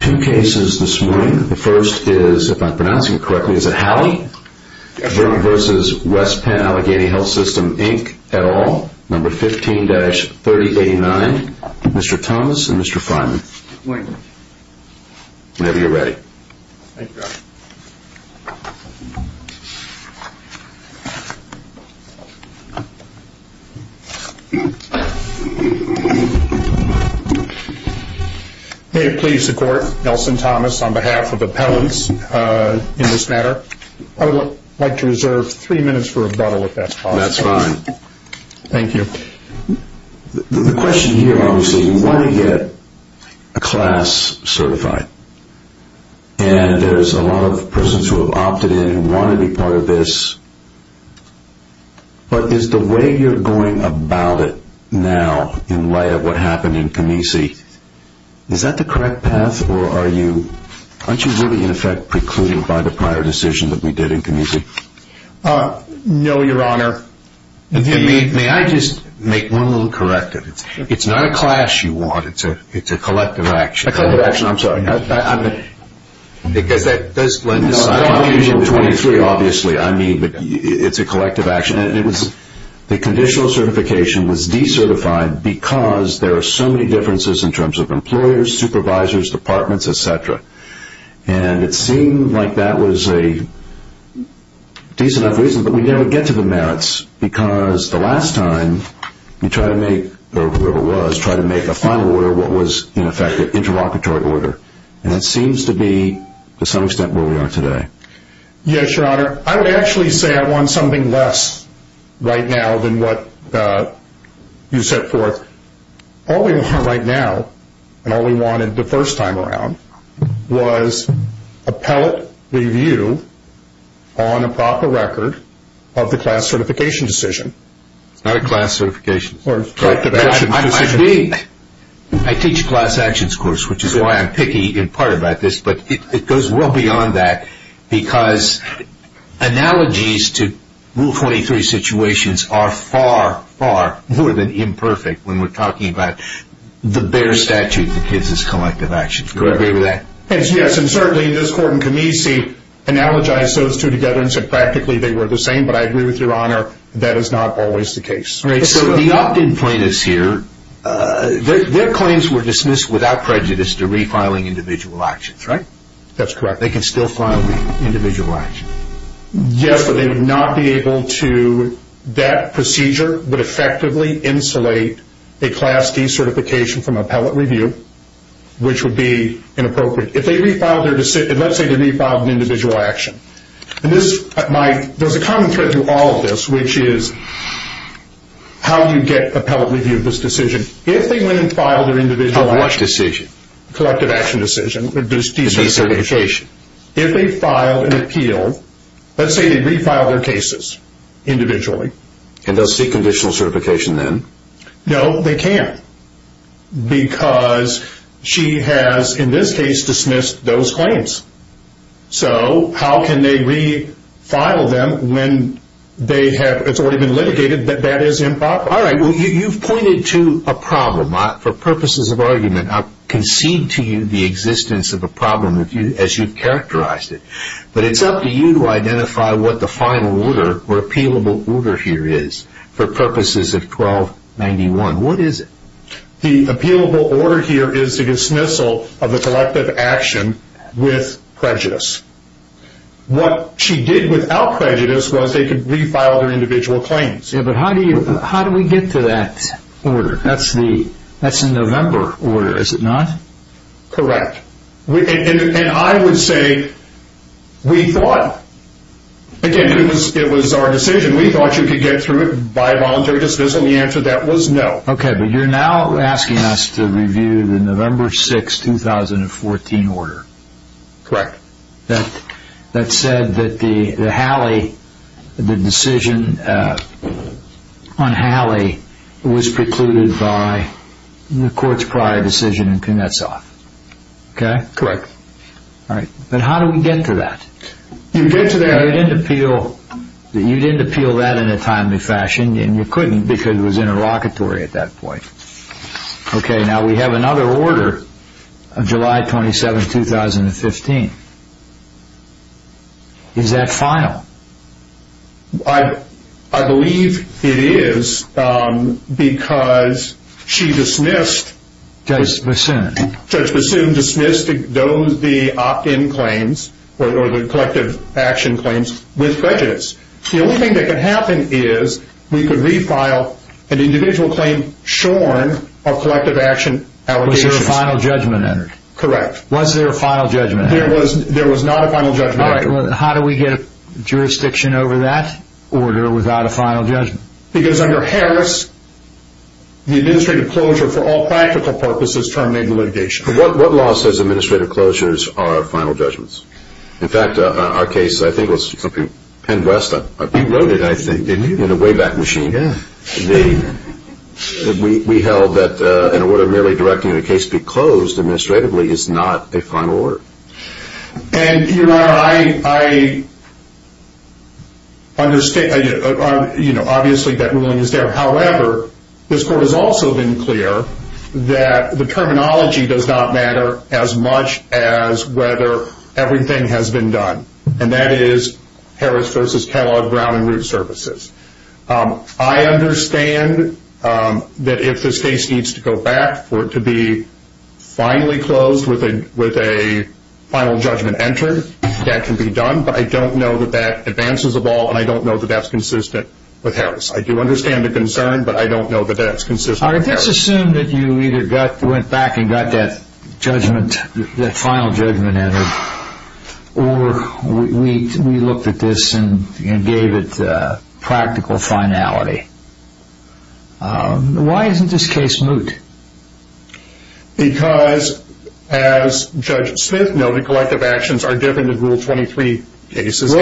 at all, number 15-3089, Mr. Thomas and Mr. Freiman. Whenever you're ready. May it please the court, Nelson Thomas on behalf of the appellants in this matter. I would like to reserve three minutes for rebuttal if that's possible. Thank you. The question here, obviously, you want to get a class certified. And there's a lot of persons who have opted in and want to be part of this. But is the way you're going about it now, in light of what happened in Canese, is that the correct path? Or aren't you really, in effect, precluding by the prior decision that we did in Canese? No, Your Honor. May I just make one little corrective? It's not a class you want, it's a collective action. A collective action, I'm sorry. Because that does blend in. No, I'm using 23, obviously. I mean, it's a collective action. The conditional certification was decertified because there are so many differences in terms of employers, supervisors, departments, etc. And it seemed like that was a decent enough reason. But we never get to the merits because the last time you tried to make, or whoever it was, tried to make a final order, what was, in effect, an interlocutory order. And that seems to be, to some extent, where we are today. Yes, Your Honor. I would actually say I want something less right now than what you set forth. All we want right now, and all we wanted the first time around, was a pellet review on a proper record of the class certification decision. It's not a class certification. I teach a class actions course, which is why I'm picky in part about this. But it goes well beyond that because analogies to Rule 23 situations are far, far more than imperfect when we're talking about the bare statute that gives us collective actions. Do you agree with that? Yes, and certainly this Court in Comice analogized those two together and said practically they were the same. But I agree with Your Honor, that is not always the case. So the opt-in plaintiffs here, their claims were dismissed without prejudice to refiling individual actions, right? That's correct. They can still file an individual action. Yes, but they would not be able to, that procedure would effectively insulate a class D certification from a pellet review, which would be inappropriate. Let's say they refiled an individual action. There's a common thread through all of this, which is how do you get a pellet review of this decision? If they went and filed their individual action, collective action decision, if they filed an appeal, let's say they refiled their cases individually. And they'll seek conditional certification then? No, they can't because she has, in this case, dismissed those claims. So how can they refile them when it's already been litigated that that is improper? All right, well, you've pointed to a problem. For purposes of argument, I'll concede to you the existence of a problem as you've characterized it. But it's up to you to identify what the final order or appealable order here is for purposes of 1291. What is it? The appealable order here is the dismissal of the collective action with prejudice. What she did without prejudice was they could refile their individual claims. But how do we get to that order? That's the November order, is it not? Correct. And I would say we thought, again, it was our decision, we thought you could get through it by a voluntary dismissal. The answer to that was no. Okay, but you're now asking us to review the November 6, 2014 order. Correct. That said that the decision on Halley was precluded by the court's prior decision in Knutsov. Okay? Correct. All right. But how do we get to that? You get to that. You didn't appeal that in a timely fashion, and you couldn't because it was interlocutory at that point. Okay, now we have another order of July 27, 2015. Is that final? I believe it is because she dismissed Judge Bassoon, dismissed the opt-in claims or the collective action claims with prejudice. The only thing that could happen is we could refile an individual claim shorn of collective action allegations. Was there a final judgment? Correct. Was there a final judgment? There was not a final judgment. All right. How do we get a jurisdiction over that order without a final judgment? Because under Harris, the administrative closure for all practical purposes terminated litigation. What law says administrative closures are final judgments? In fact, our case, I think it was Penn West. He wrote it, I think, didn't he? In a Wayback Machine. Yeah. We held that an order merely directing the case be closed administratively is not a final order. And, Your Honor, I understand. Obviously, that ruling is there. However, this Court has also been clear that the terminology does not matter as much as whether everything has been done. And that is Harris v. Kellogg, Brown and Root Services. I understand that if this case needs to go back for it to be finally closed with a final judgment entered, that can be done. But I don't know that that advances a ball, and I don't know that that's consistent with Harris. I do understand the concern, but I don't know that that's consistent with Harris. All right. Let's assume that you either went back and got that judgment, that final judgment entered, or we looked at this and gave it practical finality. Why isn't this case moot? Because, as Judge Smith noted, collective actions are different in Rule 23 cases.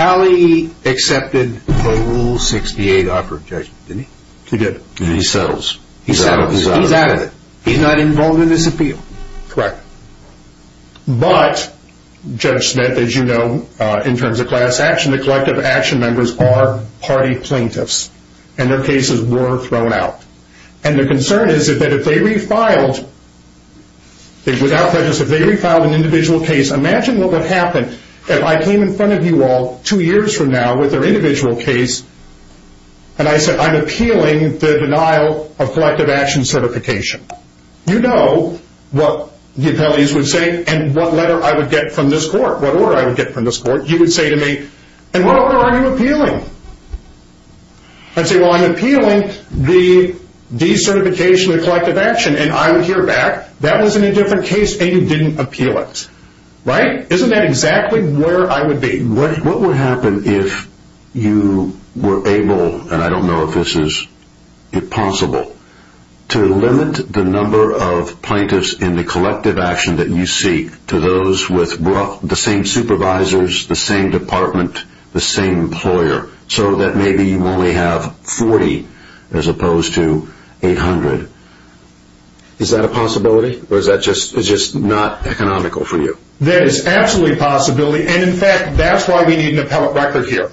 Hallie accepted Rule 68 offer, didn't he? He did. And he settles. He settles. He's out of it. He's not involved in this appeal. Correct. But, Judge Smith, as you know, in terms of class action, the collective action members are party plaintiffs, and their cases were thrown out. And their concern is that if they refiled, without prejudice, if they refiled an individual case, imagine what would happen if I came in front of you all two years from now with their individual case, and I said, I'm appealing the denial of collective action certification. You know what the appellees would say and what letter I would get from this court, what order I would get from this court. You would say to me, and what order are you appealing? I'd say, well, I'm appealing the decertification of collective action, and I would hear back, that was in a different case, and you didn't appeal it. Right? Isn't that exactly where I would be? What would happen if you were able, and I don't know if this is possible, to limit the number of plaintiffs in the collective action that you seek to those with the same supervisors, the same department, the same employer, so that maybe you only have 40 as opposed to 800? Is that a possibility, or is that just not economical for you? That is absolutely a possibility, and in fact, that's why we need an appellate record here.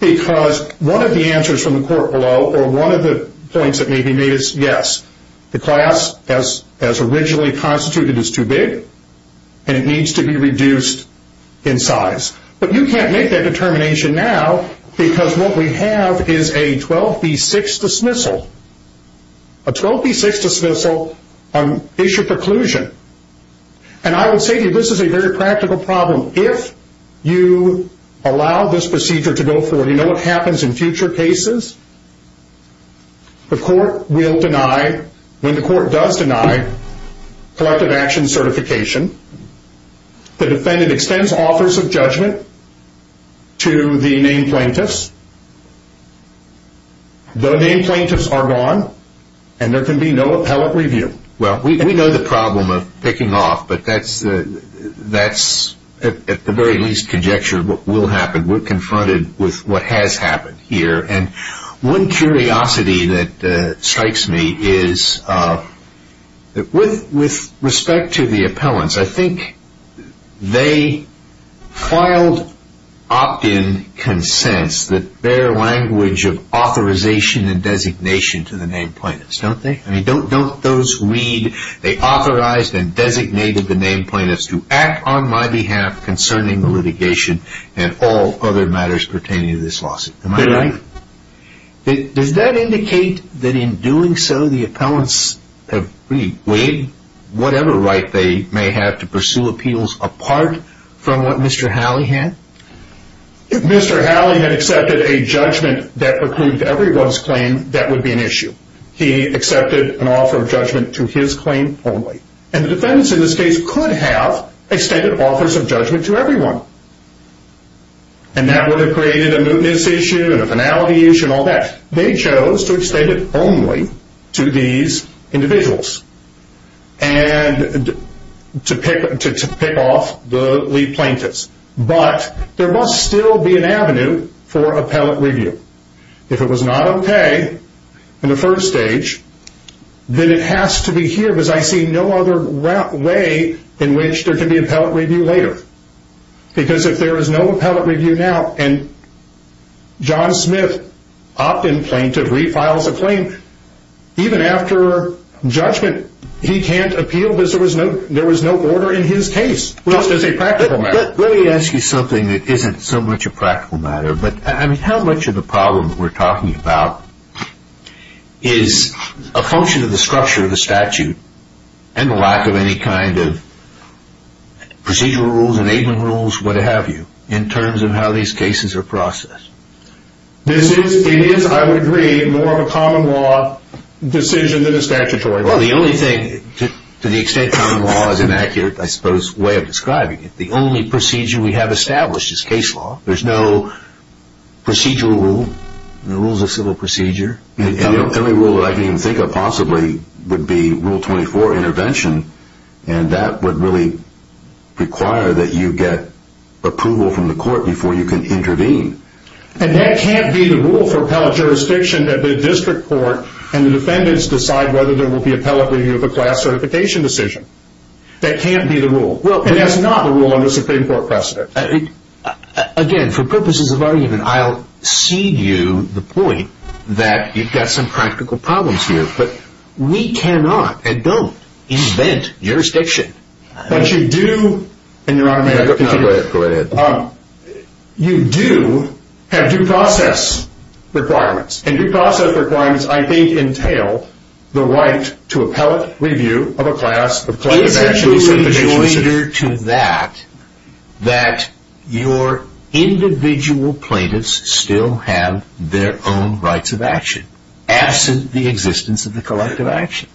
Because one of the answers from the court below, or one of the points that may be made is yes, the class as originally constituted is too big, and it needs to be reduced in size. But you can't make that determination now because what we have is a 12B6 dismissal. A 12B6 dismissal is your preclusion, and I would say to you this is a very practical problem. If you allow this procedure to go forward, you know what happens in future cases? The court will deny, when the court does deny collective action certification, the defendant extends offers of judgment to the named plaintiffs. The named plaintiffs are gone, and there can be no appellate review. Well, we know the problem of picking off, but that's at the very least conjecture of what will happen. We're confronted with what has happened here. And one curiosity that strikes me is with respect to the appellants, I think they filed opt-in consents that bear language of authorization and designation to the named plaintiffs, don't they? I mean, don't those read, they authorized and designated the named plaintiffs to act on my behalf concerning the litigation and all other matters pertaining to this lawsuit. Am I right? Does that indicate that in doing so, the appellants have really waived whatever right they may have to pursue appeals apart from what Mr. Halley had? If Mr. Halley had accepted a judgment that precludes everyone's claim, that would be an issue. He accepted an offer of judgment to his claim only. And the defendants in this case could have extended offers of judgment to everyone. And that would have created a mootness issue and a finality issue and all that. They chose to extend it only to these individuals and to pick off the lead plaintiffs. But there must still be an avenue for appellate review. If it was not okay in the first stage, then it has to be here. Because I see no other way in which there can be appellate review later. Because if there is no appellate review now and John Smith, opt-in plaintiff, refiles a claim, even after judgment, he can't appeal because there was no order in his case, just as a practical matter. Let me ask you something that isn't so much a practical matter. But how much of the problem we're talking about is a function of the structure of the statute and the lack of any kind of procedural rules, enabling rules, what have you, in terms of how these cases are processed? It is, I would agree, more of a common law decision than a statutory one. Well, the only thing, to the extent common law is an accurate, I suppose, way of describing it, the only procedure we have established is case law. There's no procedural rule. The rule's a civil procedure. And the only rule that I can even think of possibly would be Rule 24, intervention. And that would really require that you get approval from the court before you can intervene. And that can't be the rule for appellate jurisdiction that the district court and the defendants decide whether there will be appellate review of a class certification decision. That can't be the rule. And that's not the rule under Supreme Court precedent. Again, for purposes of argument, I'll cede you the point that you've got some practical problems here. But we cannot and don't invent jurisdiction. But you do, and Your Honor, may I continue? Go ahead. You do have due process requirements. And due process requirements, I think, entail the right to appellate review of a class. The plaintiff actually is an individual. Is there any joinder to that that your individual plaintiffs still have their own rights of action, absent the existence of the collective action?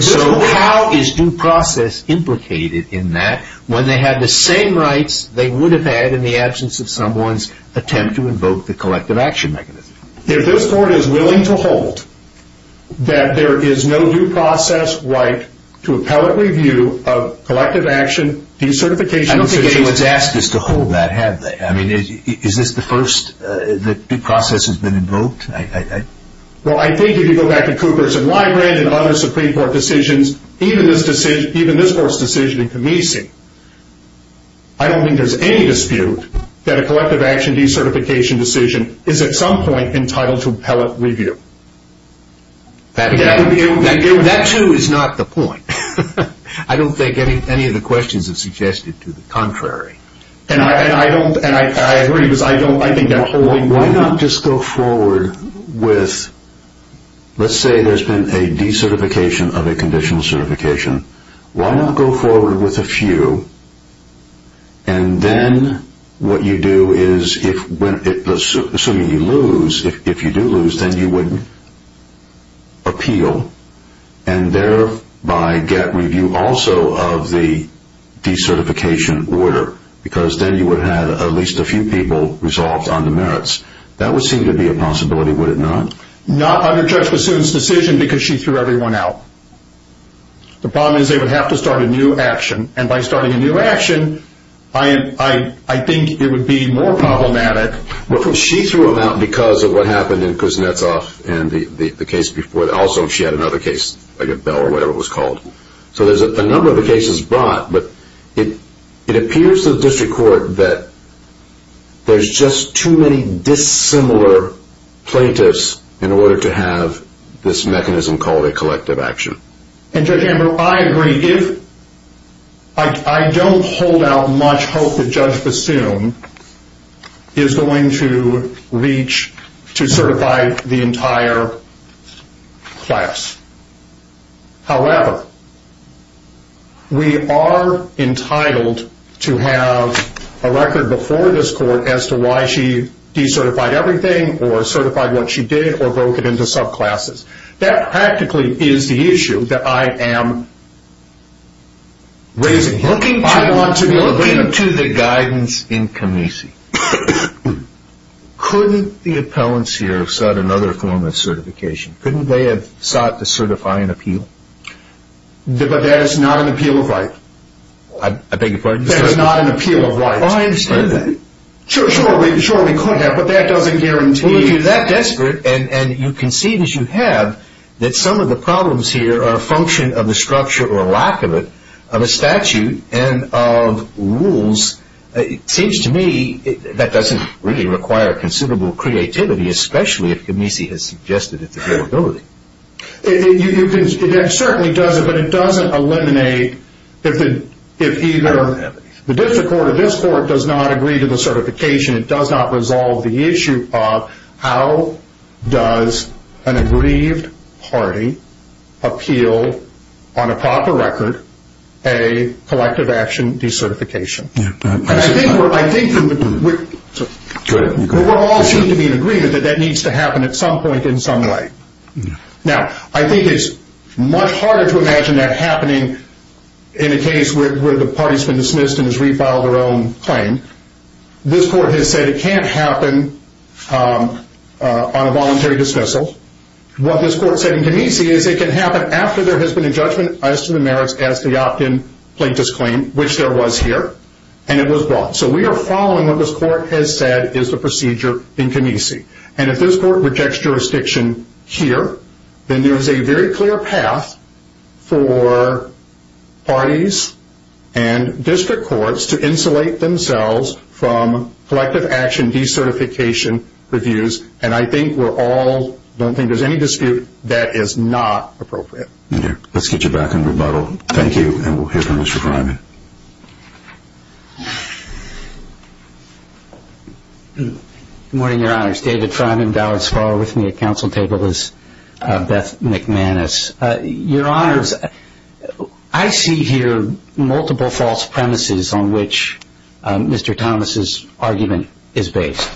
So how is due process implicated in that when they have the same rights they would have had in the absence of someone's attempt to invoke the collective action mechanism? If this Court is willing to hold that there is no due process right to appellate review of collective action, decertification of the case... So it's asked us to hold that, have they? I mean, is this the first that due process has been invoked? Well, I think if you go back to Cooperson-Lybrand and other Supreme Court decisions, even this Court's decision in Kamisi, I don't think there's any dispute that a collective action decertification decision is at some point entitled to appellate review. That, too, is not the point. I don't think any of the questions have suggested to the contrary. And I agree because I think that holding... Why not just go forward with, let's say there's been a decertification of a conditional certification. Why not go forward with a few and then what you do is, assuming you lose, if you do lose, then you would appeal and thereby get review also of the decertification order because then you would have at least a few people resolved on the merits. That would seem to be a possibility, would it not? Not under Judge Bassoon's decision because she threw everyone out. The problem is they would have to start a new action. And by starting a new action, I think it would be more problematic. Well, she threw them out because of what happened in Kuznetsov and the case before that. Also, she had another case, like a bill or whatever it was called. So there's a number of the cases brought, but it appears to the District Court that there's just too many dissimilar plaintiffs in order to have this mechanism called a collective action. And Judge Amber, I agree. I don't hold out much hope that Judge Bassoon is going to reach to certify the entire class. However, we are entitled to have a record before this Court as to why she decertified everything or certified what she did or broke it into subclasses. That practically is the issue that I am raising here. Looking to the guidance in Comice. Couldn't the appellants here have sought another form of certification? Couldn't they have sought to certify an appeal? But that is not an appeal of right. I beg your pardon? That is not an appeal of right. I understand that. Sure, we could have, but that doesn't guarantee. Well, if you're that desperate and you can see that you have, that some of the problems here are a function of the structure or lack of it of a statute and of rules, it seems to me that doesn't really require considerable creativity, especially if Comice has suggested its availability. It certainly doesn't, but it doesn't eliminate if either the District Court or this Court does not agree to the certification, it does not resolve the issue of how does an aggrieved party appeal on a proper record a collective action decertification. I think we're all in agreement that that needs to happen at some point in some way. Now, I think it's much harder to imagine that happening in a case where the party has been dismissed and has re-filed their own claim. This Court has said it can't happen on a voluntary dismissal. What this Court said in Comice is it can happen after there has been a judgment as to the merits as to the opt-in plaintiff's claim, which there was here, and it was brought. So we are following what this Court has said is the procedure in Comice. And if this Court rejects jurisdiction here, then there is a very clear path for parties and District Courts to insulate themselves from collective action decertification reviews, and I think we're all – I don't think there's any dispute that is not appropriate. Let's get you back on rebuttal. Thank you. And we'll hear from Mr. Freiman. Good morning, Your Honors. David Freiman, Dallas Fargo. With me at Council Table is Beth McManus. Your Honors, I see here multiple false premises on which Mr. Thomas' argument is based.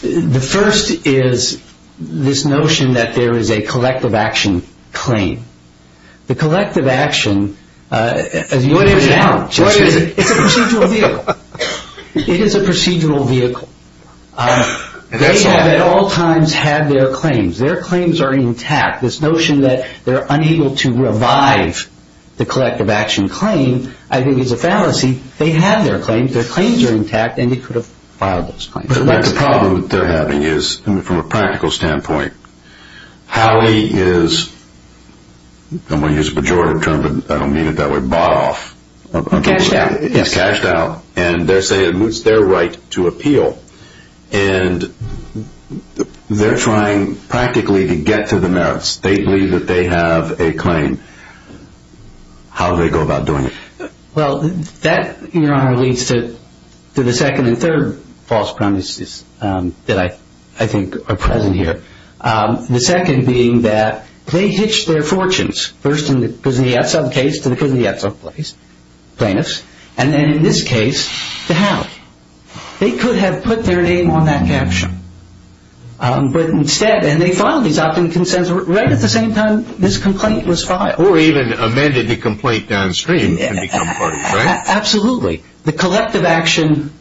The first is this notion that there is a collective action claim. The collective action – it's a procedural vehicle. It is a procedural vehicle. They have at all times had their claims. Their claims are intact. This notion that they're unable to revive the collective action claim I think is a fallacy. They have their claims. Their claims are intact, and they could have filed those claims. But the problem that they're having is, from a practical standpoint, how he is – I'm going to use a pejorative term, but I don't mean it that way – bought off. Cashed out. He's cashed out, and they're saying it's their right to appeal. And they're trying practically to get to the merits. They believe that they have a claim. How do they go about doing it? Well, that, Your Honor, leads to the second and third false premises that I think are present here. The second being that they hitched their fortunes, first in the Kuznetsov case to the Kuznetsov plaintiffs, and then in this case to Howe. They could have put their name on that caption. But instead – and they filed these opt-in consents right at the same time this complaint was filed. Or even amended the complaint downstream to become part of it, right? Absolutely. The collective action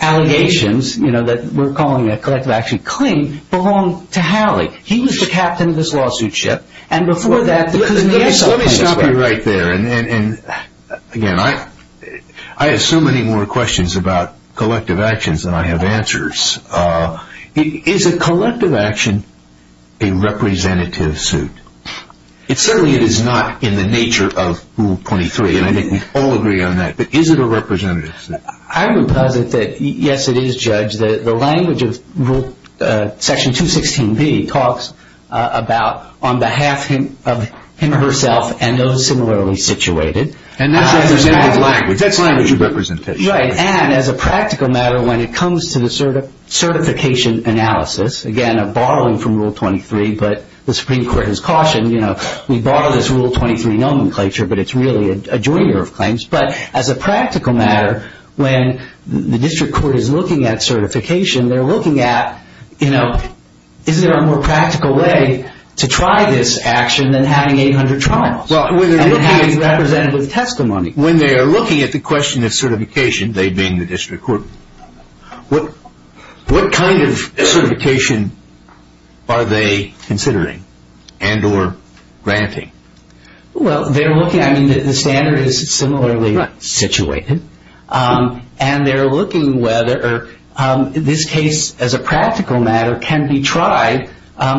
allegations that we're calling a collective action claim belong to Howe. He was the captain of this lawsuit ship, and before that the Kuznetsov plaintiffs were. Let me stop you right there. Again, I have so many more questions about collective actions than I have answers. Is a collective action a representative suit? Certainly it is not in the nature of Rule 23, and I think we all agree on that. But is it a representative suit? I would posit that, yes, it is, Judge. The language of Section 216B talks about on behalf of him or herself and those similarly situated. And that's representative language. That's language of representation. Right, and as a practical matter, when it comes to the certification analysis, again, I'm borrowing from Rule 23, but the Supreme Court has cautioned, you know, we borrow this Rule 23 nomenclature, but it's really a joiner of claims. But as a practical matter, when the district court is looking at certification, they're looking at, you know, is there a more practical way to try this action than having 800 trials? And it has representative testimony. When they are looking at the question of certification, they mean the district court, what kind of certification are they considering and or granting? Well, they're looking, I mean, the standard is similarly situated, and they're looking whether this case, as a practical matter, can be tried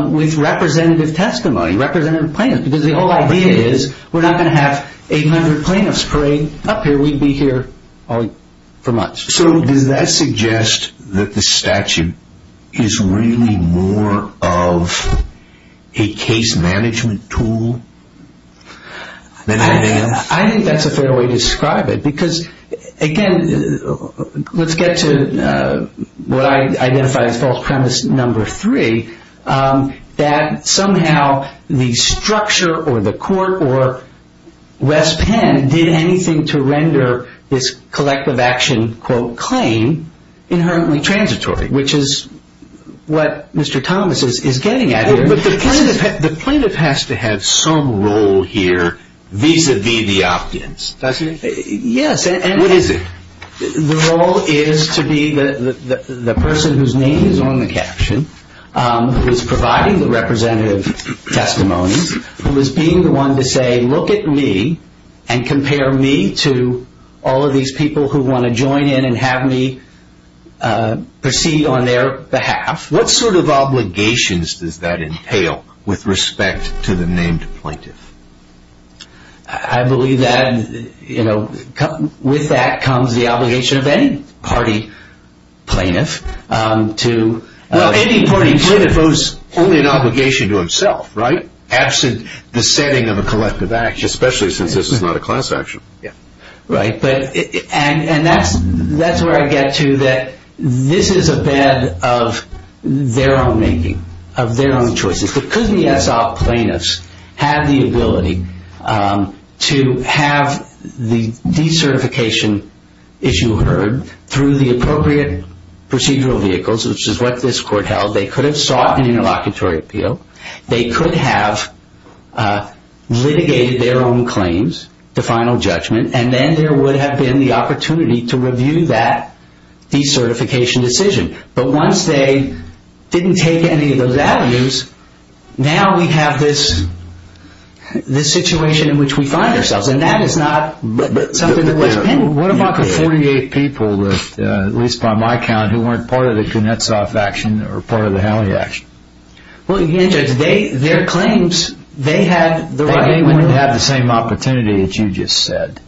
with representative testimony, representative plaintiffs, because the whole idea is we're not going to have 800 plaintiffs parade up here. We'd be here for months. So does that suggest that the statute is really more of a case management tool than anything else? I think that's a fair way to describe it, because, again, let's get to what I identify as false premise number three, that somehow the structure or the court or West Penn did anything to render this collective action, quote, claim inherently transitory, which is what Mr. Thomas is getting at here. But the plaintiff has to have some role here vis-à-vis the opt-ins, doesn't he? Yes. What is it? The role is to be the person whose name is on the caption, who is providing the representative testimony, who is being the one to say, look at me and compare me to all of these people who want to join in and have me proceed on their behalf. What sort of obligations does that entail with respect to the named plaintiff? I believe that, you know, with that comes the obligation of any party plaintiff. Well, any party plaintiff owes only an obligation to himself, right, absent the setting of a collective action. Especially since this is not a class action. Right. And that's where I get to that this is a bed of their own making, of their own choices. Because the SOP plaintiffs have the ability to have the decertification issue heard through the appropriate procedural vehicles, which is what this court held. They could have sought an interlocutory appeal. They could have litigated their own claims to final judgment. And then there would have been the opportunity to review that decertification decision. But once they didn't take any of those values, now we have this situation in which we find ourselves. And that is not something that was pending. Well, what about the 48 people, at least by my count, who weren't part of the Gunetsov action or part of the Haley action? Well, again, Judge, their claims, they had the right. They wouldn't have the same opportunity that you just said.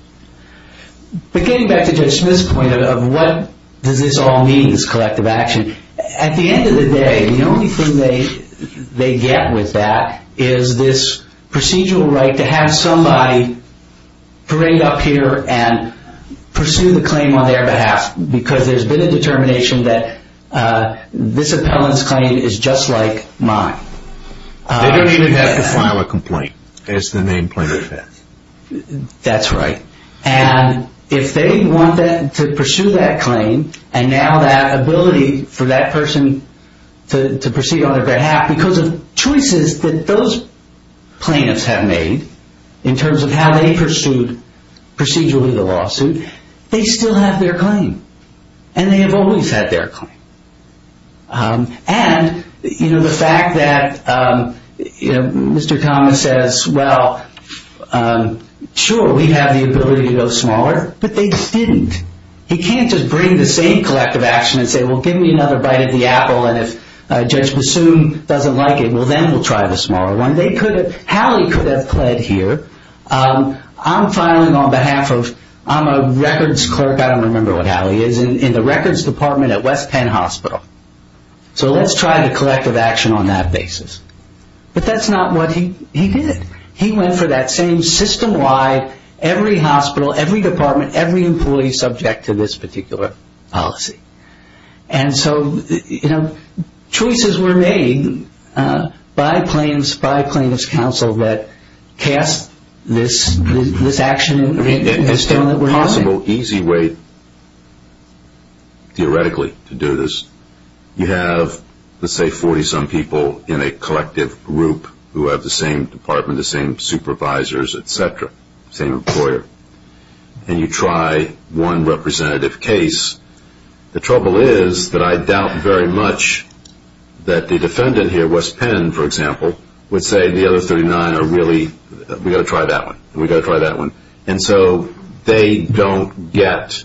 But getting back to Judge Smith's point of what does this all mean, this collective action, at the end of the day, the only thing they get with that is this procedural right to have somebody bring up here and pursue the claim on their behalf because there's been a determination that this appellant's claim is just like mine. They don't even have to file a complaint, as the main plaintiff has. That's right. And if they want to pursue that claim, and now that ability for that person to proceed on their behalf because of choices that those plaintiffs have made in terms of how they pursued procedurally the lawsuit, they still have their claim, and they have always had their claim. And the fact that Mr. Thomas says, well, sure, we have the ability to go smaller, but they didn't. He can't just bring the same collective action and say, well, give me another bite of the apple and if Judge Bassoon doesn't like it, well, then we'll try the smaller one. Hallie could have pled here. I'm filing on behalf of, I'm a records clerk, I don't remember what Hallie is, in the records department at West Penn Hospital. So let's try the collective action on that basis. But that's not what he did. He went for that same system-wide, every hospital, every department, every employee subject to this particular policy. And so, you know, choices were made by plaintiffs, by plaintiffs' counsel, that cast this action in the ring. It's still a possible, easy way, theoretically, to do this. You have, let's say, 40-some people in a collective group who have the same department, the same supervisors, et cetera, the same employer, and you try one representative case. The trouble is that I doubt very much that the defendant here, West Penn, for example, would say the other 39 are really, we've got to try that one, we've got to try that one. And so they don't get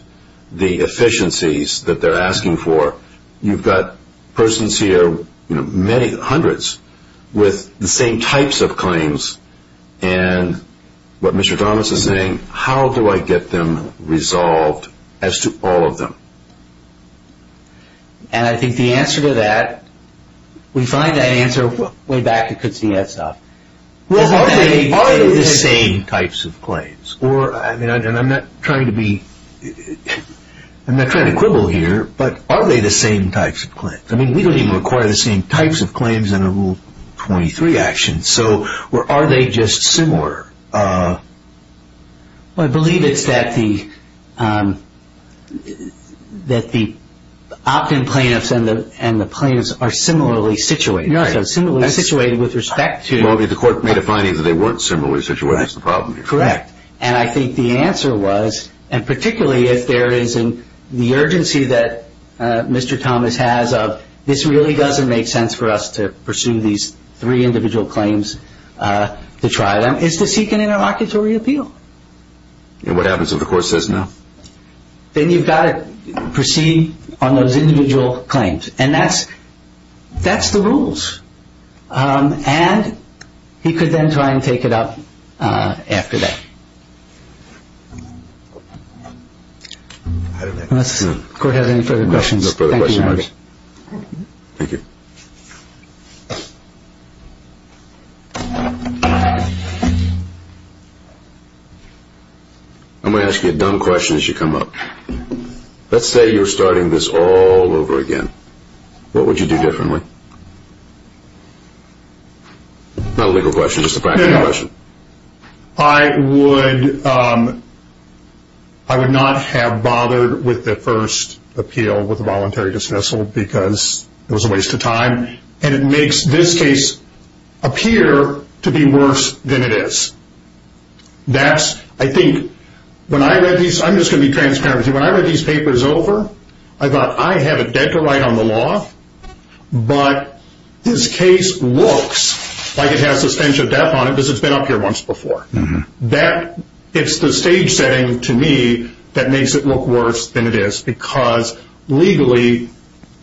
the efficiencies that they're asking for. You've got persons here, you know, many, hundreds, with the same types of claims and what Mr. Thomas is saying, how do I get them resolved as to all of them? And I think the answer to that, we find that answer way back at Kutztown. Well, are they the same types of claims? Or, I mean, I'm not trying to be, I'm not trying to quibble here, but are they the same types of claims? I mean, we don't even require the same types of claims in a Rule 23 action. So are they just similar? Well, I believe it's that the opt-in plaintiffs and the plaintiffs are similarly situated. No, they're similarly situated with respect to. Well, the court made a finding that they weren't similarly situated. That's the problem here. Correct. And I think the answer was, and particularly if there is the urgency that Mr. Thomas has of, this really doesn't make sense for us to pursue these three individual claims, to try them, is to seek an interlocutory appeal. And what happens if the court says no? Then you've got to proceed on those individual claims. And that's the rules. And he could then try and take it up after that. Unless the court has any further questions. No further questions. Thank you. I'm going to ask you a dumb question as you come up. Let's say you were starting this all over again. What would you do differently? Not a legal question, just a practical question. I would not have bothered with the first appeal, with the voluntary dismissal, because it was a waste of time. And it makes this case appear to be worse than it is. I'm just going to be transparent with you. When I read these papers over, I thought, I have a debt to write on the law, but this case looks like it has substantial debt on it because it's been up here once before. It's the stage setting to me that makes it look worse than it is, because legally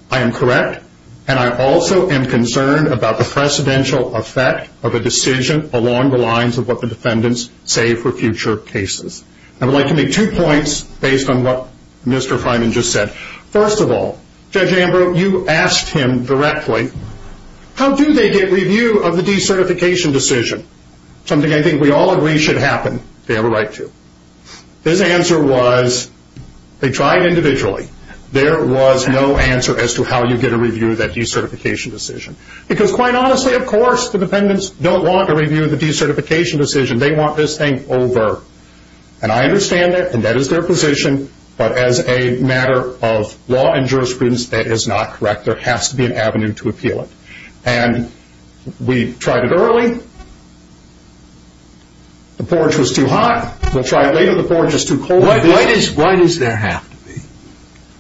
I am correct, and I also am concerned about the precedential effect of a decision along the lines of what the defendants say for future cases. I would like to make two points based on what Mr. Freiman just said. First of all, Judge Ambrose, you asked him directly, how do they get review of the decertification decision? Something I think we all agree should happen if they have a right to. His answer was, they tried individually. There was no answer as to how you get a review of that decertification decision. Because quite honestly, of course, the defendants don't want a review of the decertification decision. They want this thing over. And I understand that, and that is their position, but as a matter of law and jurisprudence, that is not correct. There has to be an avenue to appeal it. And we tried it early. The porridge was too hot. We'll try it later. The porridge is too cold. Why does there have to be?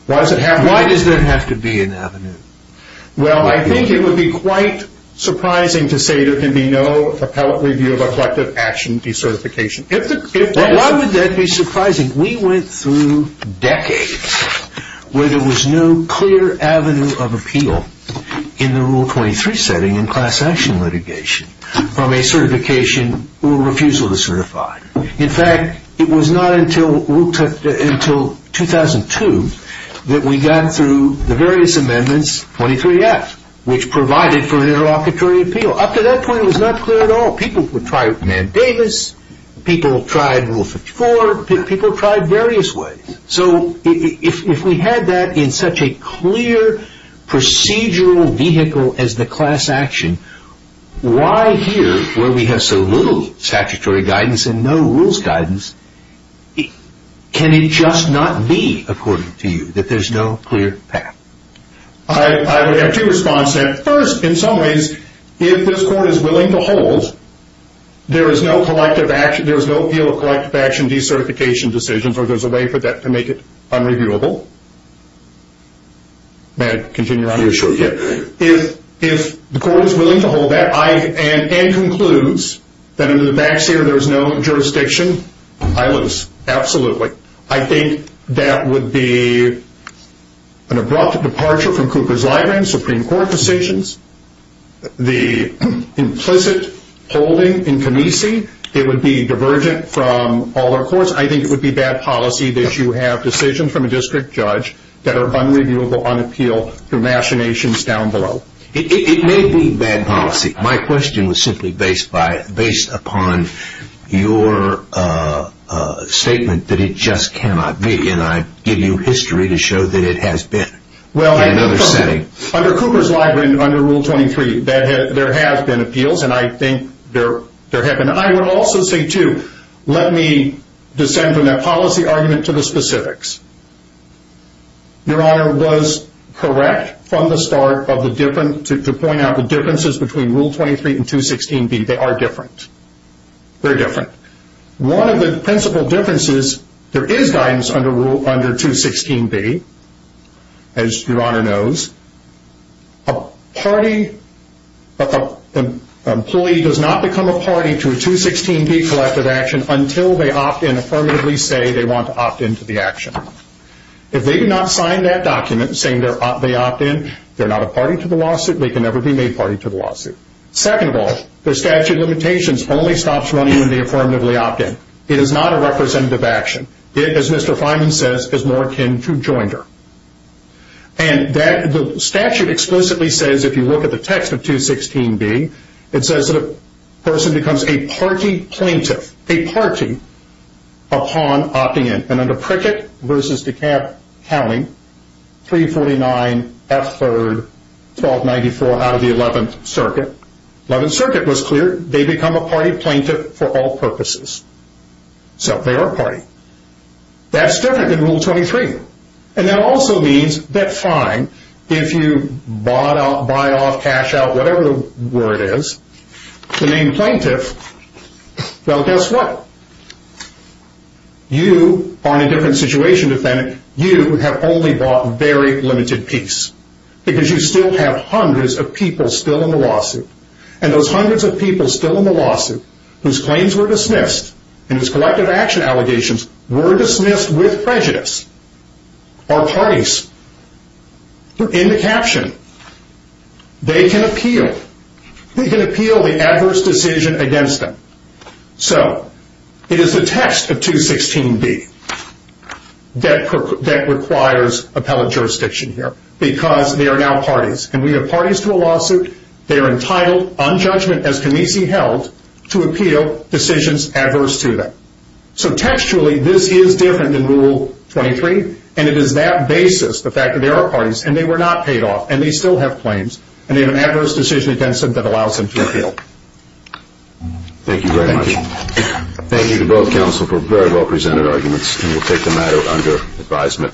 Why does it have to be? Why does there have to be an avenue? Well, I think it would be quite surprising to say there can be no appellate review of a collective action decertification. Why would that be surprising? We went through decades where there was no clear avenue of appeal in the Rule 23 setting in class action litigation from a certification or refusal to certify. In fact, it was not until 2002 that we got through the various amendments, 23F, which provided for an interlocutory appeal. Up to that point, it was not clear at all. People would try Man Davis. People tried Rule 54. People tried various ways. So if we had that in such a clear procedural vehicle as the class action, why here, where we have so little statutory guidance and no rules guidance, can it just not be, according to you, that there's no clear path? I would have two responses to that. First, in some ways, if this court is willing to hold, there is no collective action, there is no view of collective action decertification decisions, or there's a way for that to make it unreviewable. May I continue around here? Sure. If the court is willing to hold that and concludes that in the backseat there is no jurisdiction, I lose. Absolutely. I think that would be an abrupt departure from Cooper's Library and Supreme Court decisions. The implicit holding in Canisi, it would be divergent from all our courts. I think it would be bad policy that you have decisions from a district judge that are unreviewable on appeal through machinations down below. It may be bad policy. My question was simply based upon your statement that it just cannot be, and I give you history to show that it has been in another setting. Under Cooper's Library, under Rule 23, there have been appeals, and I think there have been. I would also say, too, let me descend from that policy argument to the specifics. Your Honor, it was correct from the start to point out the differences between Rule 23 and 216B. They are different. Very different. One of the principal differences, there is guidance under Rule 216B, as Your Honor knows. A party, an employee does not become a party to a 216B collective action until they opt-in, affirmatively say they want to opt-in to the action. If they do not sign that document saying they opt-in, they are not a party to the lawsuit. They can never be made party to the lawsuit. Second of all, the statute of limitations only stops running when they affirmatively opt-in. It is not a representative action. It, as Mr. Fineman says, is more akin to jointer. And the statute explicitly says, if you look at the text of 216B, it says that a person becomes a party plaintiff, a party, upon opting in. And under Prickett v. DeKalb County, 349F3-1294 out of the 11th Circuit, 11th Circuit was clear, they become a party plaintiff for all purposes. So, they are a party. That's different than Rule 23. And that also means that, fine, if you buy off, cash out, whatever the word is, the named plaintiff, well, guess what? You are in a different situation, defendant. You have only bought very limited peace. Because you still have hundreds of people still in the lawsuit. And those hundreds of people still in the lawsuit, whose claims were dismissed, and whose collective action allegations were dismissed with prejudice, are parties. They're in the caption. They can appeal. They can appeal the adverse decision against them. So, it is the text of 216B that requires appellate jurisdiction here. Because they are now parties. And we have parties to a lawsuit. They are entitled, on judgment, as Canisi held, to appeal decisions adverse to them. So, textually, this is different than Rule 23. And it is that basis, the fact that they are parties, and they were not paid off, and they still have claims, and they have adverse decision against them that allows them to appeal. Thank you very much. Thank you to both counsel for very well presented arguments. And we'll take the matter under advisement.